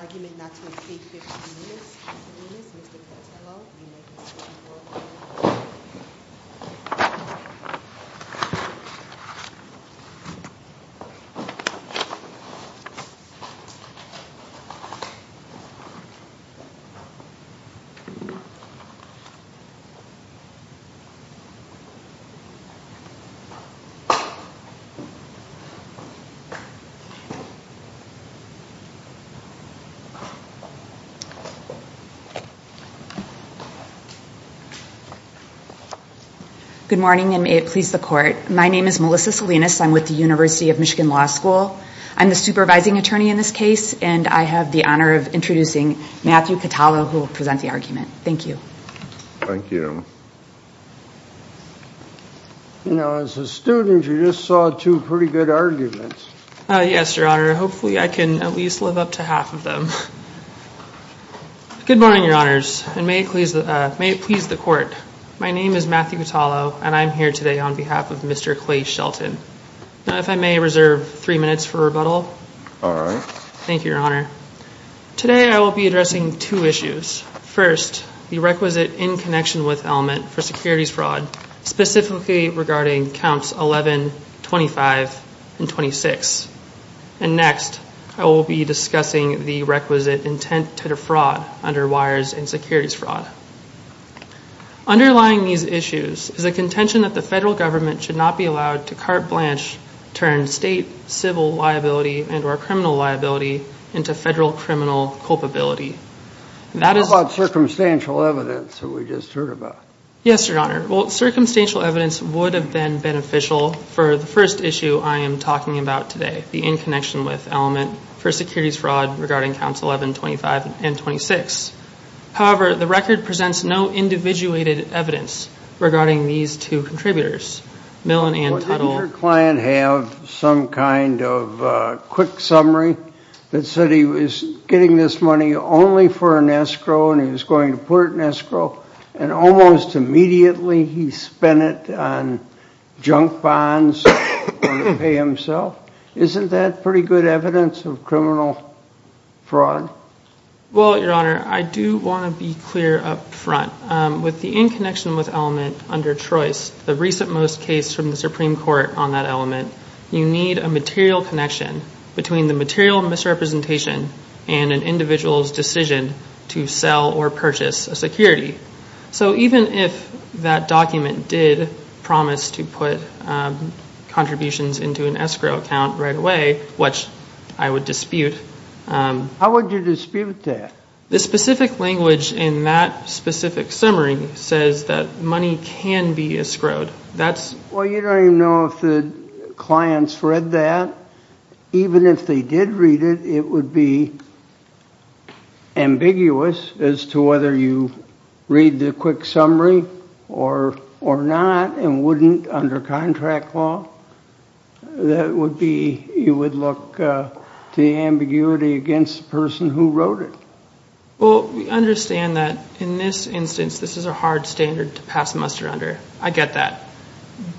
Argument not to escape 15 minutes, 15 minutes, Mr. Patello, United States of America. Good morning, and may it please the court. My name is Melissa Salinas. I'm with the University of Michigan Law School. I'm the supervising attorney in this case, and I have the honor of introducing Matthew Patello, who will present the argument. Thank you. Thank you. You know, as a student, you just saw two pretty good arguments. Yes, Your Honor. Hopefully, I can at least live up to half of them. Good morning, Your Honors, and may it please the court. My name is Matthew Patello, and I'm here today on behalf of Mr. Clay Shelton. Now, if I may reserve three minutes for rebuttal. All right. Thank you, Your Honor. Today, I will be addressing two issues. First, the requisite in connection with element for securities fraud, specifically regarding counts 11, 25, and 26. And next, I will be discussing the requisite intent to defraud under wires and securities fraud. Underlying these issues is a contention that the federal government should not be allowed to carte blanche, turn state civil liability and or criminal liability into federal criminal culpability. How about circumstantial evidence that we just heard about? Yes, Your Honor. Well, circumstantial evidence would have been beneficial for the first issue I am talking about today, the in connection with element for securities fraud regarding counts 11, 25, and 26. However, the record presents no individuated evidence regarding these two contributors, Mill and Tuttle. Didn't your client have some kind of quick summary that said he was getting this money only for an escrow and he was going to put it in escrow and almost immediately he spent it on junk bonds to pay himself? Isn't that pretty good evidence of criminal fraud? Well, Your Honor, I do want to be clear up front. With the in connection with element under choice, the recent most case from the Supreme Court on that element, you need a material connection between the material misrepresentation and an individual's decision to sell or purchase a security. So even if that document did promise to put contributions into an escrow account right away, which I would dispute. How would you dispute that? The specific language in that specific summary says that money can be escrowed. Well, you don't even know if the client's read that. Even if they did read it, it would be ambiguous as to whether you read the quick summary or not and wouldn't under contract law. That would be, you would look to the ambiguity against the person who wrote it. Well, we understand that in this instance, this is a hard standard to pass muster under. I get that.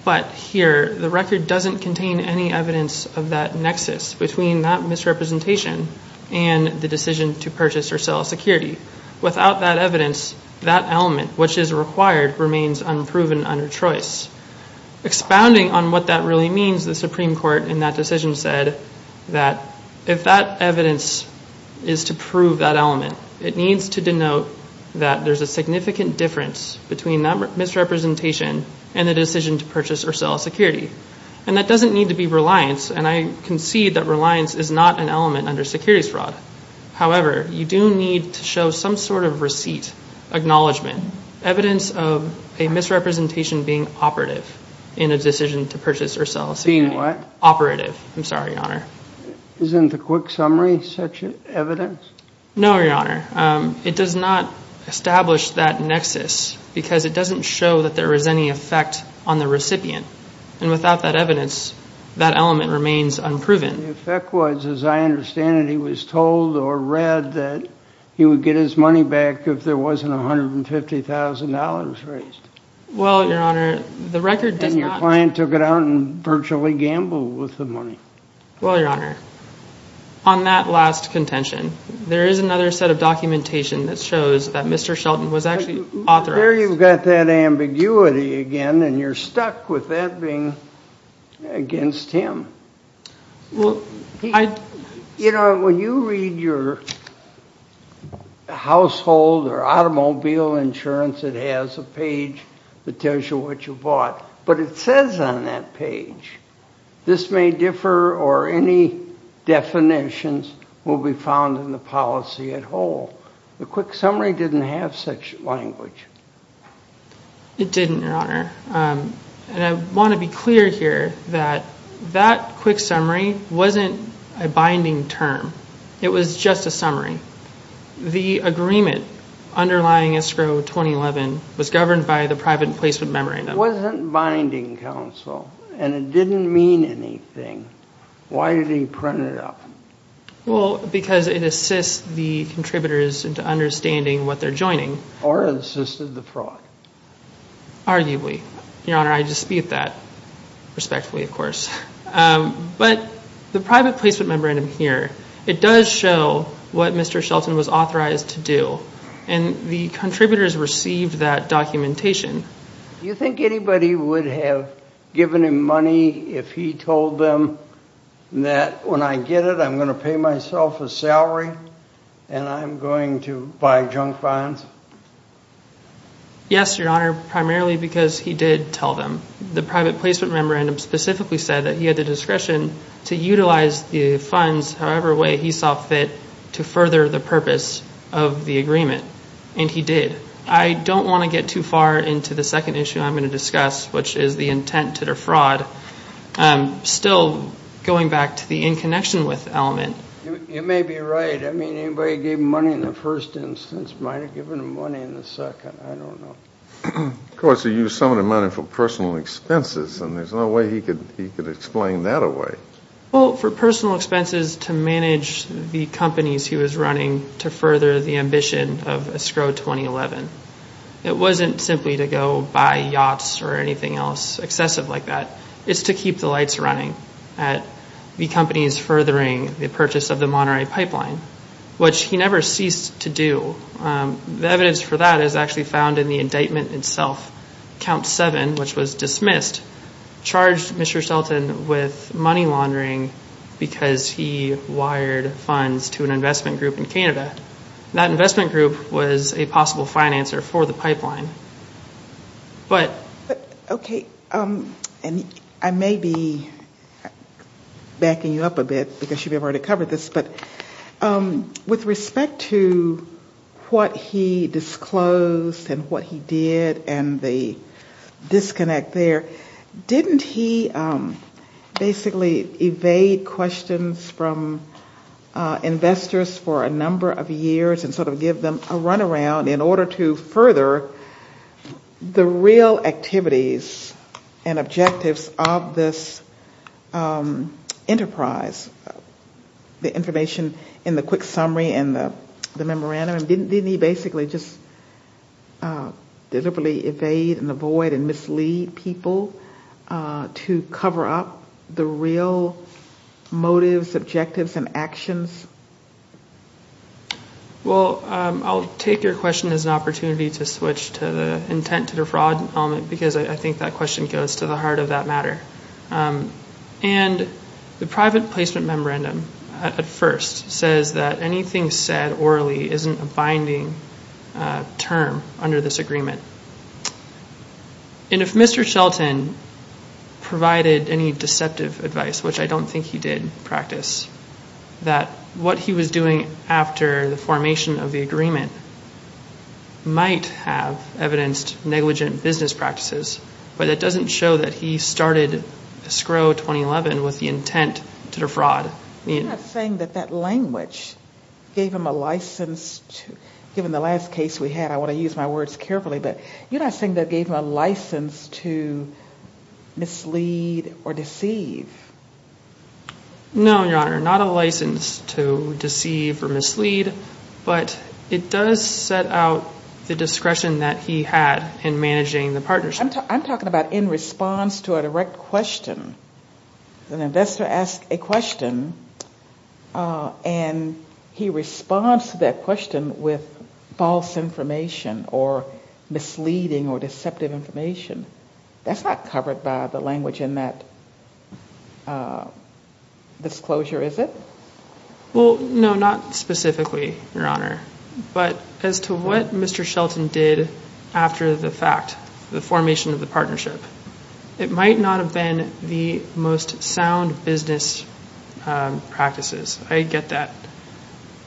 But here, the record doesn't contain any evidence of that nexus between that misrepresentation and the decision to purchase or sell a security. Without that evidence, that element, which is required, remains unproven under choice. Expounding on what that really means, the it needs to denote that there's a significant difference between that misrepresentation and the decision to purchase or sell a security. And that doesn't need to be reliance, and I concede that reliance is not an element under securities fraud. However, you do need to show some sort of receipt, acknowledgment, evidence of a misrepresentation being operative in a decision to purchase or sell a security. Being what? Operative. I'm sorry, Your Honor. Isn't the quick summary such evidence? No, Your Honor. It does not establish that nexus because it doesn't show that there is any effect on the recipient. And without that evidence, that element remains unproven. The effect was, as I understand it, he was told or read that he would get his money back if there wasn't $150,000 raised. Well, Your Honor, the record does not... And your client took it out and virtually gambled with the money. Well, Your Honor, on that last contention, there is another set of documentation that shows that Mr. Shelton was actually authorized... There you've got that ambiguity again, and you're stuck with that being against him. Well, I... You know, when you read your household or automobile insurance, it has a page that tells you what you bought, but it says on that page, this may differ or any definitions will be found in the policy at whole. The quick summary didn't have such language. It didn't, Your Honor. And I want to be clear here that that quick summary wasn't a binding term. It was just a summary. The agreement underlying escrow 2011 was governed by the private placement memorandum. It wasn't binding counsel, and it didn't mean anything. Why did he print it up? Well, because it assists the contributors into understanding what they're joining. Or it assisted the fraud. Arguably. Your Honor, I dispute that, respectfully, of course. But the private placement memorandum here, it does show what Mr. Shelton was authorized to do, and the contributors received that documentation Do you think anybody would have given him money if he told them that when I get it, I'm going to pay myself a salary, and I'm going to buy junk bonds? Yes, Your Honor, primarily because he did tell them. The private placement memorandum specifically said that he had the discretion to utilize the funds however way he saw fit to further the purpose of the agreement. And he did. I don't want to get too far into the second issue I'm going to discuss, which is the intent to defraud. Still going back to the in connection with element. You may be right. I mean, anybody gave him money in the first instance might have given him money in the second. I don't know. Of course, he used some of the money for personal expenses, and there's no way he could explain that away. For personal expenses to manage the companies he was running to further the ambition of Escrow 2011. It wasn't simply to go buy yachts or anything else excessive like that. It's to keep the lights running at the companies furthering the purchase of the Monterey Pipeline, which he never ceased to do. The evidence for that is actually found in the indictment itself. Count 7, which was dismissed, charged Mr. Shelton with money laundering because he wired funds to an investment group in Canada. That investment group was a possible financer for the pipeline. Okay. I may be backing you up a bit because you've already covered this, but with respect to what he disclosed and what he did and the disconnect there, didn't he basically evade questions from investors for a number of years and sort of give them a run around in order to further the real activities and objectives of this enterprise? That's the information in the quick summary and the memorandum. Didn't he basically just deliberately evade and avoid and mislead people to cover up the real motives, objectives and actions? Well, I'll take your question as an opportunity to switch to the intent to defraud element because I think that question goes to the heart of that matter. The private placement memorandum at first says that anything said orally isn't a binding term under this agreement. If Mr. Shelton provided any deceptive advice, which I don't think he did practice, that what he was doing after the formation of the agreement might have evidenced negligent business practices, but it doesn't show that he started SCROW 2011 with the intent to defraud. You're not saying that that language gave him a license to, given the last case we had, I want to use my words carefully, but you're not saying that it gave him a license to mislead or deceive? No, Your Honor, not a license to deceive or mislead, but it does set out the discretion that he had in managing the partnership. I'm talking about in response to a direct question. An investor asks a question and he responds to that question with false information or misleading or deceptive information. That's not covered by the language in that disclosure, is it? Well, no, not specifically, Your Honor, but as to what Mr. Shelton did after the fact, the formation of the partnership, it might not have been the most sound business practices. I get that.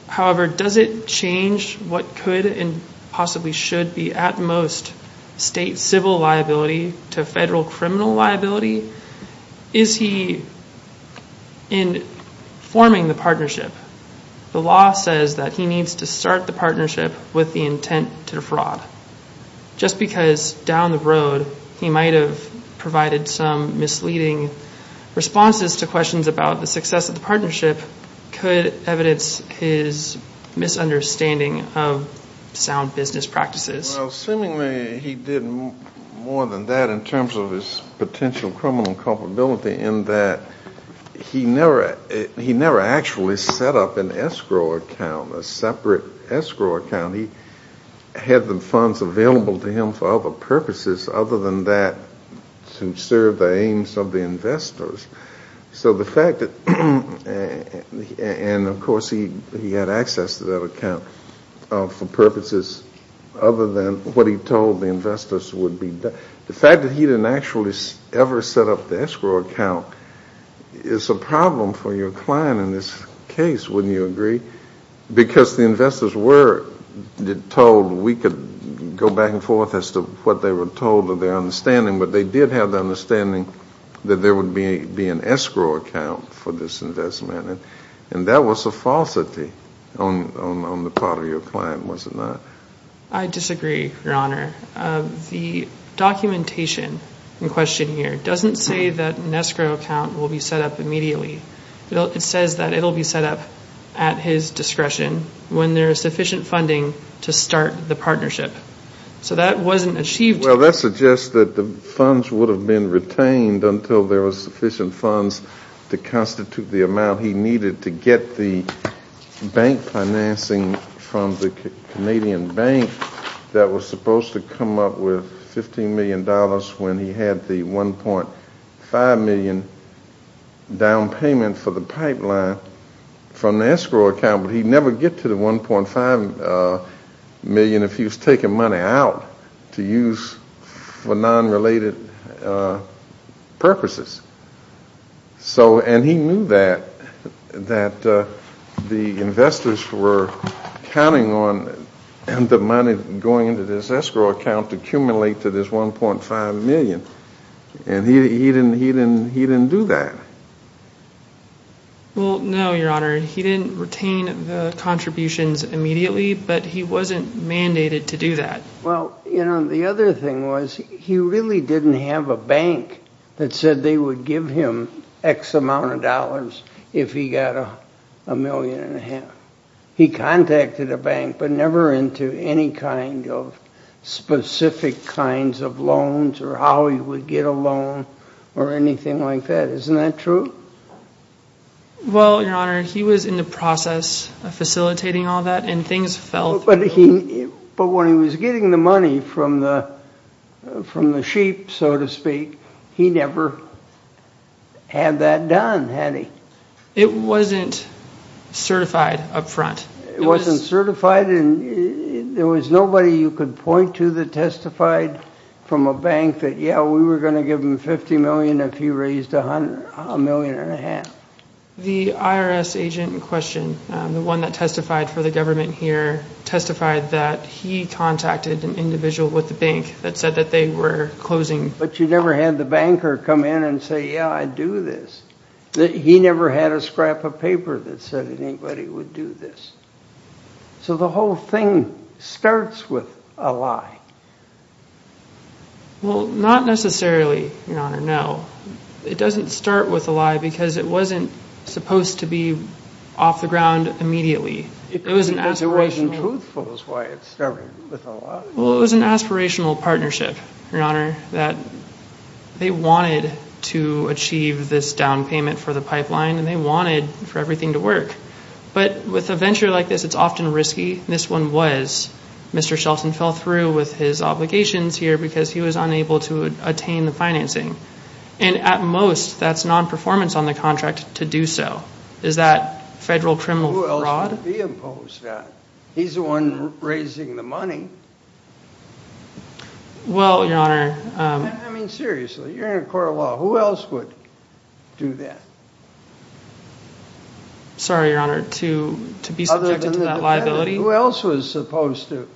However, does it change what could and possibly should be at most state civil liability to federal criminal liability? Is he informing the partnership? The law says that he needs to start the partnership with the intent to defraud. Just because down the road he might have provided some misleading responses to questions about the success of the partnership could evidence his misunderstanding of sound business practices. Well, seemingly he did more than that in terms of his potential criminal culpability in that he never actually set up an escrow account, a separate escrow account. He had the funds available to him for other purposes other than that to serve the aims of the investors. So the fact that, and of course he had access to that account for purposes other than what he told the investors would be. The fact that he didn't actually ever set up the escrow account is a problem for your client in this case, wouldn't you agree? Because the investors were told we could go back and forth as to what they were told of their understanding, but they did have the understanding that there would be an escrow account for this investment and that was a falsity on the part of your client, was it not? I disagree, your honor. The documentation in question here doesn't say that an escrow account will be set up immediately. It says that it will be set up at his discretion when there is sufficient funding to start the partnership. So that wasn't achieved. Well that suggests that the funds would have been retained until there was sufficient funds to constitute the amount he needed to get the bank financing from the Canadian bank that was supposed to come up with $15 million when he had the $1.5 million down payment for the pipeline from the escrow account, but he'd never get to the $1.5 million if he was taking money out to use for non-related purposes. And he knew that the investors were counting on the money going into this escrow account to accumulate to this $1.5 million and he didn't do that. Well, no, your honor. He didn't retain the contributions immediately, but he wasn't mandated to do that. Well, you know, the other thing was he really didn't have a bank that said they would give him X amount of dollars if he got $1.5 million. He contacted a bank, but never into any kind of specific kinds of loans or how he would get a loan or anything like that. Isn't that true? Well, your honor, he was in the process of facilitating all that and things fell through. But when he was getting the money from the sheep, so to speak, he never had that done, It wasn't certified up front. It wasn't certified and there was nobody you could point to that testified from a bank that, yeah, we were going to give him $50 million if he raised $1.5 million. The IRS agent in question, the one that testified for the government here, testified that he contacted an individual with the bank that said that they were closing. But you never had the banker come in and say, yeah, I'd do this. He never had a scrap of cash. So the whole thing starts with a lie. Well, not necessarily, your honor, no. It doesn't start with a lie because it wasn't supposed to be off the ground immediately. It wasn't truthful is why it started with a lie. Well, it was an aspirational partnership, your honor, that they wanted to achieve this It's often risky. This one was. Mr. Shelton fell through with his obligations here because he was unable to attain the financing. And at most, that's non-performance on the contract to do so. Is that federal criminal fraud? Who else would be opposed to that? He's the one raising the money. Well, your honor. I mean, seriously, you're in a court of law. Who else would do that? Sorry, your honor, to be subjected to that liability. Who else was supposed to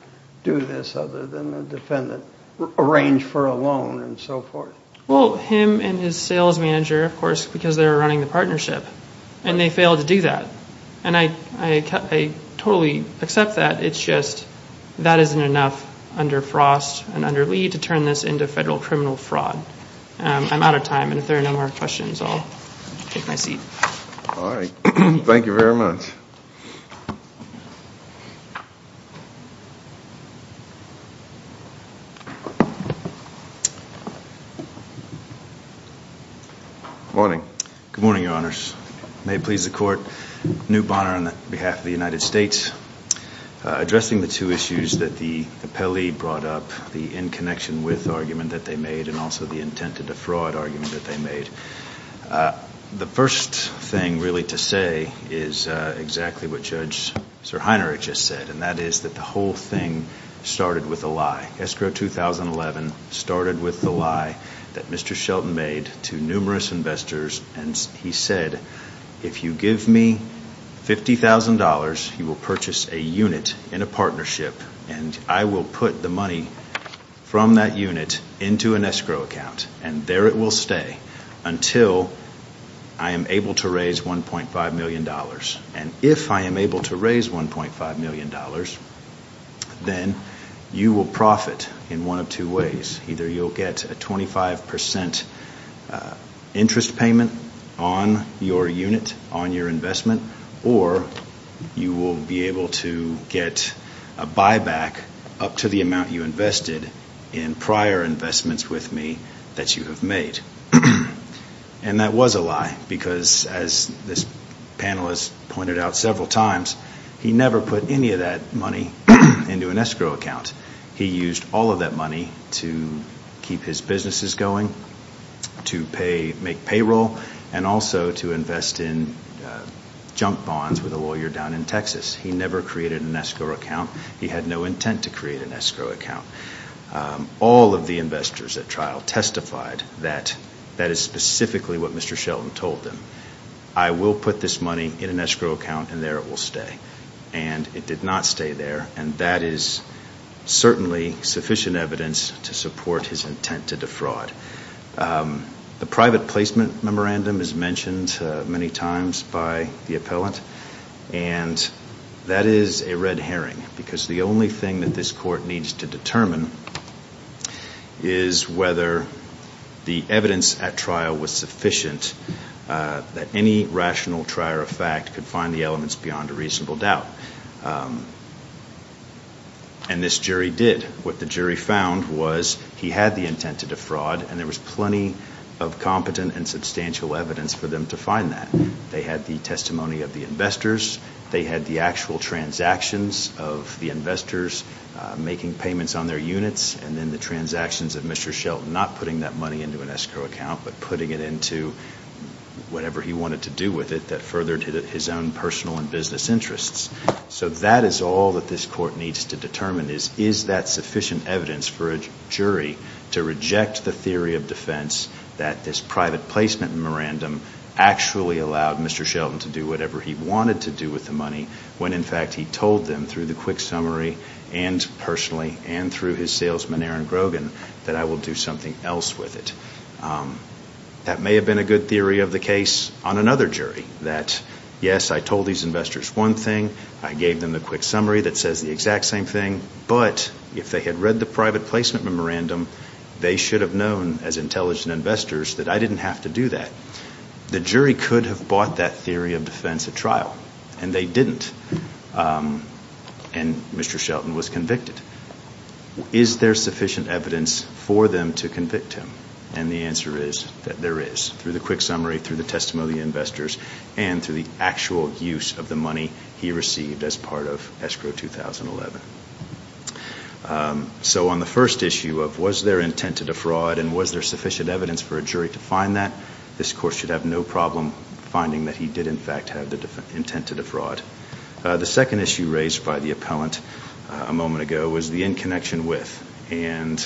do this other than the defendant? Arrange for a loan and so forth. Well, him and his sales manager, of course, because they were running the partnership. And they failed to do that. And I totally accept that. It's just that isn't enough under Frost and under Lee to turn this into federal criminal fraud. I'm out of time. And if there are no more questions, I'll take my seat. All right. Thank you very much. Morning. Good morning, your honors. May it please the court. Newt Bonner on behalf of the United States. Addressing the two issues that the appellee brought up. The in connection with argument that they made and also the intent to defraud argument that they made. The first thing really to say is exactly what Judge Sir Heinrich just said. And that is that the whole thing started with a lie. Escrow 2011 started with the lie that Mr. Shelton made to numerous investors. And he said, if you give me $50,000, you will purchase a unit in a partnership. And I will put the money from that unit into an escrow account. And there it will stay until I am able to raise $1.5 million. And if I am able to raise $1.5 million, then you will profit in one of two ways. Either you'll get a 25% interest payment on your unit, on your investment. Or you will be able to get a buyback up to the amount you invested in prior investments with me that you have made. And that was a lie because as this panelist pointed out several times, he never put any of that money into an escrow account. He used all of that money to keep his businesses going, to make payroll, and also to invest in junk bonds with a lawyer down in Texas. He never created an escrow account. He had no intent to create an escrow account. All of the investors at trial testified that that is specifically what Mr. Shelton told them. I will put this money in an escrow account, and there it will stay. And it did not stay there. And that is certainly sufficient evidence to support his intent to defraud. The private placement memorandum is mentioned many times by the appellant. And that is a red herring because the only thing that this court needs to determine is whether the evidence at trial was sufficient that any rational trier of fact could find the elements beyond a reasonable doubt. And this jury did. What the jury found was he had the intent to defraud, and there was plenty of competent and substantial evidence for them to find that. They had the testimony of the investors. They had the actual transactions of the investors making payments on their units, and then the transactions of Mr. Shelton not putting that money into an escrow account, but putting it into whatever he wanted to do with it that furthered his own personal and business interests. So that is all that this court needs to determine is, is that sufficient evidence for a jury to reject the theory of defense that this private placement memorandum actually allowed Mr. Shelton to do whatever he wanted to do with the money when, in fact, he told them through the quick summary and personally and through his salesman, Aaron Grogan, that I will do something else with it. That may have been a good theory of the case on another jury, that yes, I told these investors one thing, I gave them the quick summary that says the exact same thing, but if they had read the private placement memorandum, they should have known as intelligent investors that I didn't have to do that. The jury could have bought that theory of defense at trial, and they didn't, and Mr. Shelton was convicted. Is there sufficient evidence for them to convict him? And the answer is that there is, through the quick summary, through the testimony of the investors, and through the actual use of the money he received as part of Escrow 2011. So on the first issue of was there intent to defraud and was there sufficient evidence for a jury to find that, this court should have no problem finding that he did, in fact, have the intent to defraud. The second issue raised by the appellant a moment ago was the in connection with, and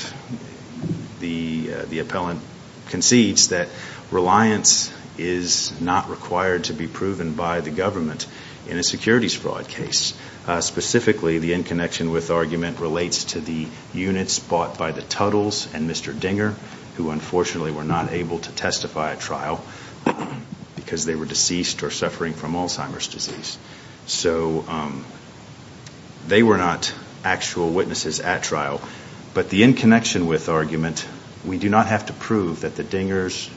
the appellant concedes that reliance is not required to be proven by the government in a securities fraud case. Specifically, the in connection with argument relates to the units bought by the Tuttles and Mr. Dinger, who unfortunately were not able to testify at trial because they were deceased or suffering from Alzheimer's disease. So they were not actual witnesses at trial. But the in connection with argument, we do not have to prove that the Dingers,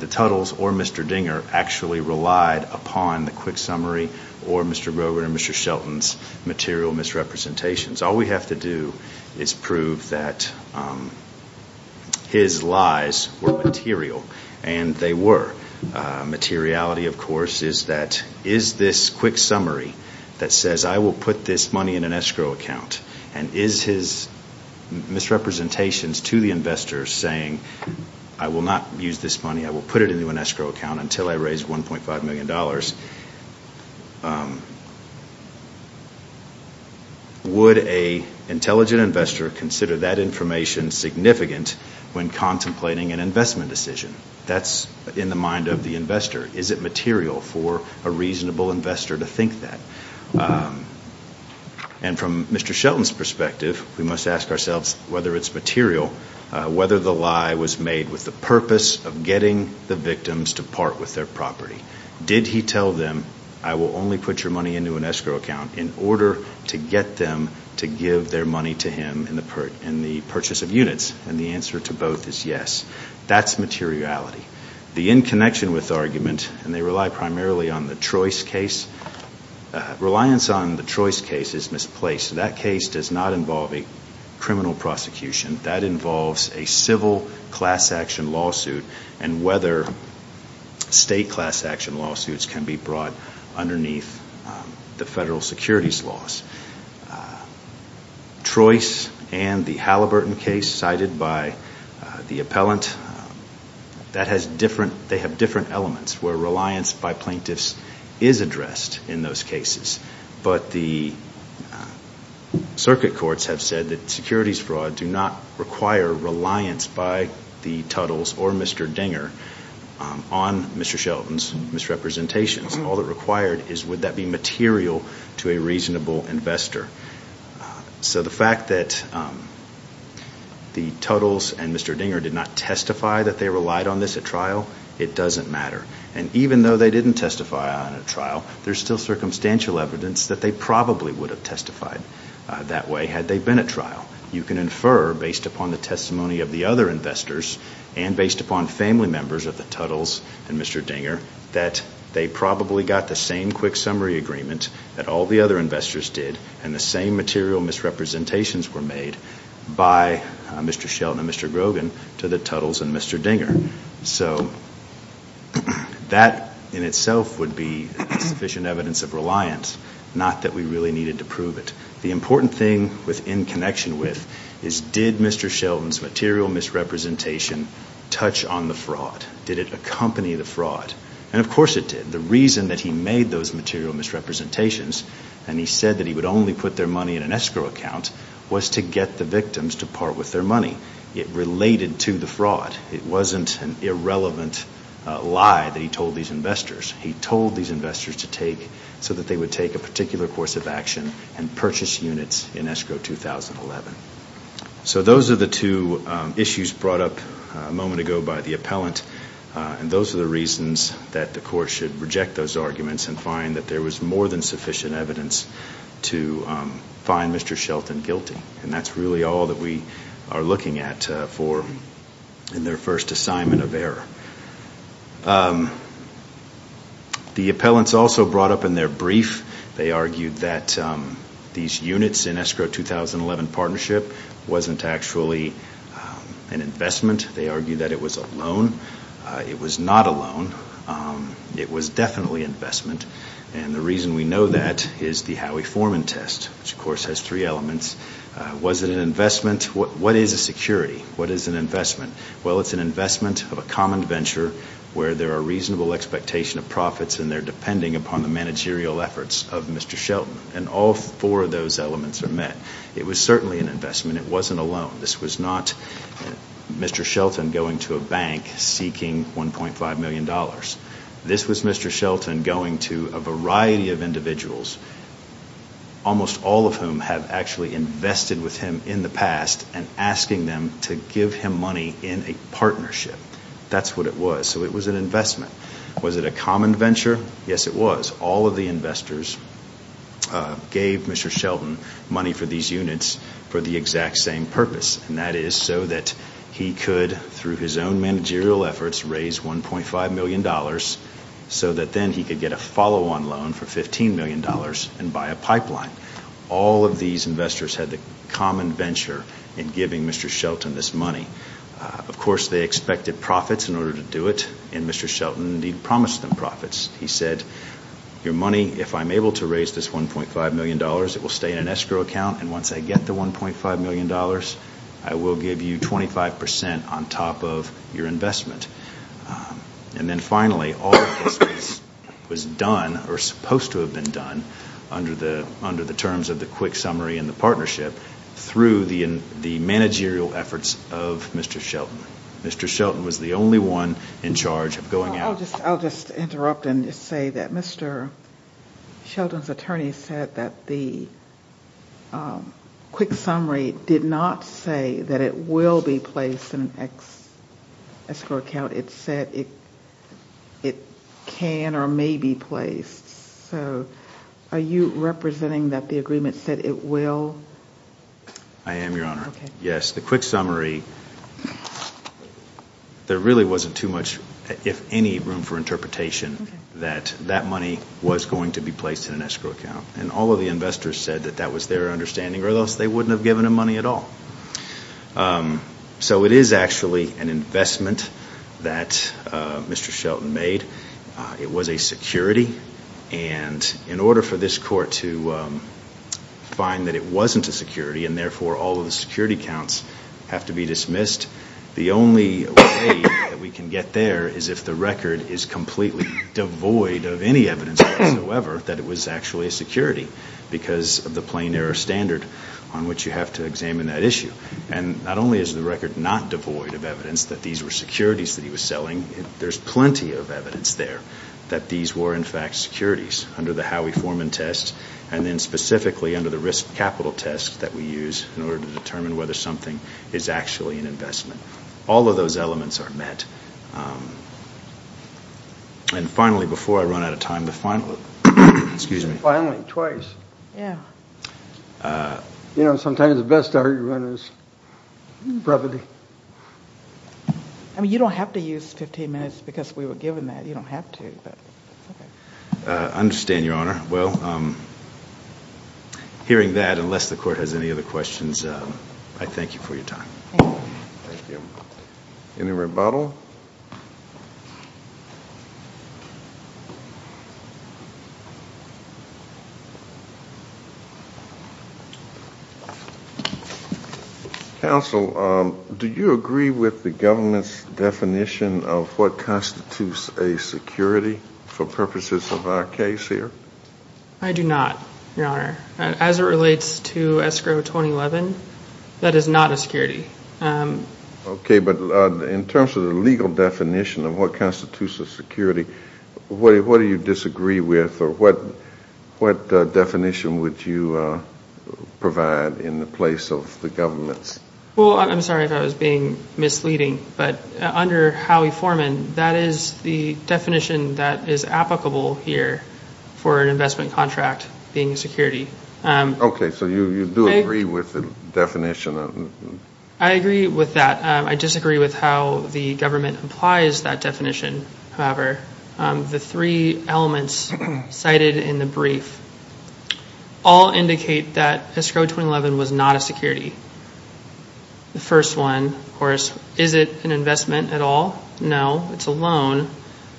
the Tuttles, or Mr. Dinger actually relied upon the quick summary or Mr. Grover and Mr. Shelton's material misrepresentations. All we have to do is prove that his lies were material and they were. Materiality, of course, is that is this quick summary that says I will put this money in an Escrow account and is his misrepresentations to the investors saying I will not use this money, I will put it into an Escrow account until I raise $1.5 million. Would an intelligent investor consider that information significant when contemplating an investment decision? That's in the mind of the investor. Is it material for a reasonable investor to think that? And from Mr. Shelton's perspective, we must ask ourselves whether it's material, whether the lie was made with the purpose of getting the victims to part with their property. Did he tell them I will only put your money into an Escrow account in order to get them to give their money to him in the purchase of units? And the answer to both is yes. That's materiality. The in connection with argument, and they rely primarily on the Trois case, reliance on the Trois case is misplaced. That case does not involve a criminal prosecution. That involves a civil class action lawsuit and whether state class action lawsuits can be brought underneath the federal securities laws. Trois and the Halliburton case cited by the appellant, they have different elements where reliance by plaintiffs is addressed in those cases. But the circuit courts have said that securities fraud do not require reliance by the Tuttles or Mr. Dinger on Mr. Shelton's misrepresentations. All that required is would that be material to a reasonable investor. So the fact that the Tuttles and Mr. Dinger did not testify that they relied on this at trial, it doesn't matter. And even though they didn't testify on a trial, there's still circumstantial evidence that they probably would have testified that way had they been at trial. You can infer based upon the testimony of the other investors and based upon family members of the Tuttles and Mr. Dinger that they probably got the same quick summary agreement that all the other investors did and the same material misrepresentations were made by Mr. Shelton and Mr. Grogan to the Tuttles and Mr. Dinger. So that in itself would be sufficient evidence of reliance, not that we really needed to prove it. The important thing within connection with is did Mr. Shelton's material misrepresentation touch on the fraud? Did it accompany the fraud? And of course it did. The reason that he made those material misrepresentations and he said that he would only put their money in an escrow account was to get the victims to part with their money. It related to the fraud. It wasn't an irrelevant lie that he told these investors. He told these investors so that they would take a particular course of action and purchase units in escrow 2011. So those are the two issues brought up a moment ago by the appellant, and those are the reasons that the court should reject those arguments and find that there was more than sufficient evidence to find Mr. Shelton guilty. And that's really all that we are looking at in their first assignment of error. The appellants also brought up in their brief, they argued that these units in escrow 2011 partnership wasn't actually an investment. They argued that it was a loan. It was not a loan. It was definitely investment. And the reason we know that is the Howie Foreman test, which of course has three elements. Was it an investment? What is a security? What is an investment? Well, it's an investment of a common venture where there are reasonable expectation of profits and they're depending upon the managerial efforts of Mr. Shelton. And all four of those elements are met. It was certainly an investment. It wasn't a loan. This was not Mr. Shelton going to a bank seeking $1.5 million. This was Mr. Shelton going to a variety of individuals, almost all of whom have actually invested with him in the past and asking them to give him money in a partnership. That's what it was. So it was an investment. Was it a common venture? Yes, it was. All of the investors gave Mr. Shelton money for these units for the exact same purpose. And that is so that he could, through his own managerial efforts, raise $1.5 million so that then he could get a follow-on loan for $15 million and buy a pipeline. All of these investors had the common venture in giving Mr. Shelton this money. Of course, they expected profits in order to do it, and Mr. Shelton indeed promised them profits. He said, your money, if I'm able to raise this $1.5 million, it will stay in an escrow account, and once I get the $1.5 million, I will give you 25 percent on top of your investment. And then finally, all of this was done, or supposed to have been done, under the terms of the quick summary and the partnership through the managerial efforts of Mr. Shelton. Mr. Shelton was the only one in charge of going out. I'll just interrupt and say that Mr. Shelton's attorney said that the quick summary did not say that it will be placed in an escrow account. It said it can or may be placed. So are you representing that the agreement said it will? I am, Your Honor. Okay. Okay. That that money was going to be placed in an escrow account, and all of the investors said that that was their understanding or else they wouldn't have given him money at all. So it is actually an investment that Mr. Shelton made. It was a security, and in order for this court to find that it wasn't a security the only way that we can get there is if the record is completely devoid of any evidence whatsoever that it was actually a security because of the plain error standard on which you have to examine that issue. And not only is the record not devoid of evidence that these were securities that he was selling, there's plenty of evidence there that these were in fact securities under the Howey-Foreman test and then specifically under the risk capital test that we use in order to determine whether something is actually an investment. All of those elements are met. And finally, before I run out of time, the final, excuse me. Finally, twice. Yeah. You know, sometimes the best argument is brevity. I mean, you don't have to use 15 minutes because we were given that. You don't have to, but it's okay. I understand, Your Honor. Well, hearing that, unless the court has any other questions, I thank you for your time. Thank you. Thank you. Any rebuttal? Counsel, do you agree with the government's definition of what constitutes a security for purposes of our case here? I do not, Your Honor. As it relates to escrow 2011, that is not a security. Okay. of what constitutes a security, what do you disagree with or what definition would you provide in the place of the government's? Well, I'm sorry if I was being misleading, but under Howey-Foreman, that is the definition that is applicable here for an investment contract being a security. Okay. So you do agree with the definition? I agree with that. I disagree with how the government applies that definition, however. The three elements cited in the brief all indicate that escrow 2011 was not a security. The first one, of course, is it an investment at all? No, it's a loan.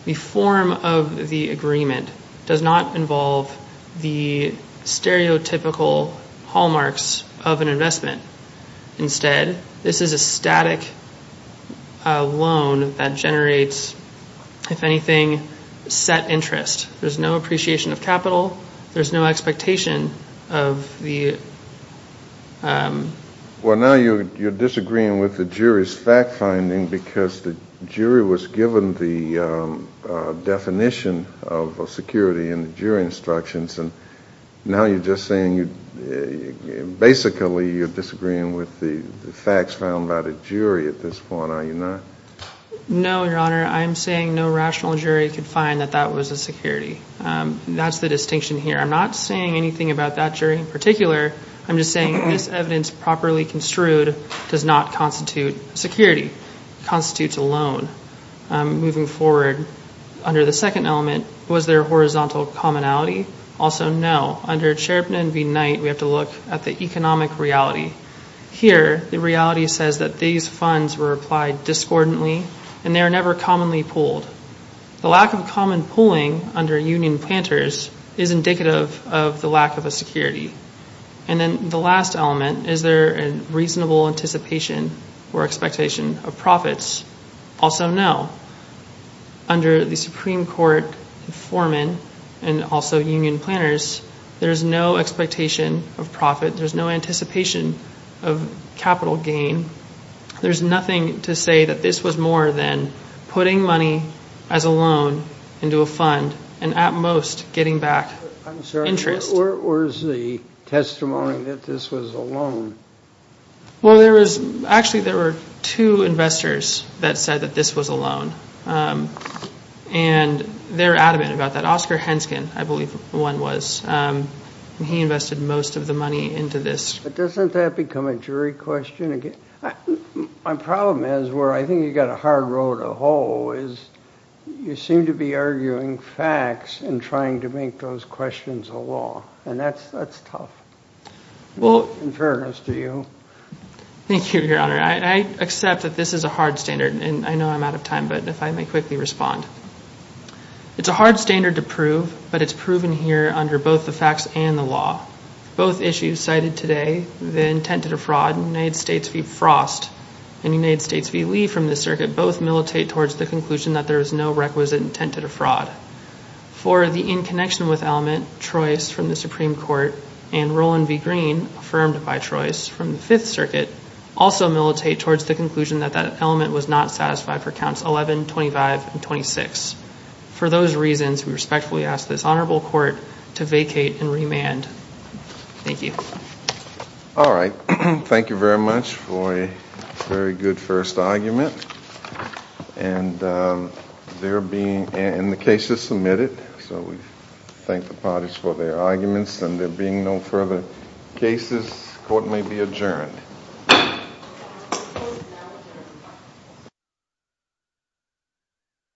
The form of the agreement does not involve the stereotypical hallmarks of an investment. Instead, this is a static loan that generates, if anything, set interest. There's no appreciation of capital. There's no expectation of the... Well, now you're disagreeing with the jury's fact-finding because the jury was given the definition of a security in the jury instructions, and now you're just saying basically you're disagreeing with the facts found by the jury at this point, are you not? No, Your Honor. I'm saying no rational jury could find that that was a security. That's the distinction here. I'm not saying anything about that jury in particular. I'm just saying this evidence properly construed does not constitute security. It constitutes a loan. Moving forward, under the second element, was there horizontal commonality? Also, no. Under Cherepnin v. Knight, we have to look at the economic reality. Here, the reality says that these funds were applied discordantly, and they were never commonly pooled. The lack of common pooling under Union Planters is indicative of the lack of a security. And then the last element, is there a reasonable anticipation or expectation of profits? Also, no. Under the Supreme Court, Foreman, and also Union Planners, there's no expectation of profit. There's no anticipation of capital gain. There's nothing to say that this was more than putting money as a loan into a fund and at most getting back interest. I'm sorry, where's the testimony that this was a loan? Well, actually, there were two investors that said that this was a loan, and they're adamant about that. Oscar Henskin, I believe the one was. He invested most of the money into this. But doesn't that become a jury question again? My problem is where I think you've got a hard road to hoe is you seem to be arguing facts and trying to make those questions a law. And that's tough, in fairness to you. Thank you, Your Honor. I accept that this is a hard standard, and I know I'm out of time, but if I may quickly respond. It's a hard standard to prove, but it's proven here under both the facts and the law. Both issues cited today, the intent to defraud, United States v. Frost and United States v. Lee from the circuit, both militate towards the conclusion that there is no requisite intent to defraud. For the in connection with element, Troyes from the Supreme Court and Roland v. Green, affirmed by Troyes from the Fifth Circuit, also militate towards the conclusion that that element was not satisfied for counts 11, 25, and 26. For those reasons, we respectfully ask this honorable court to vacate and remand. Thank you. All right. Thank you very much for a very good first argument. And the case is submitted, so we thank the parties for their arguments.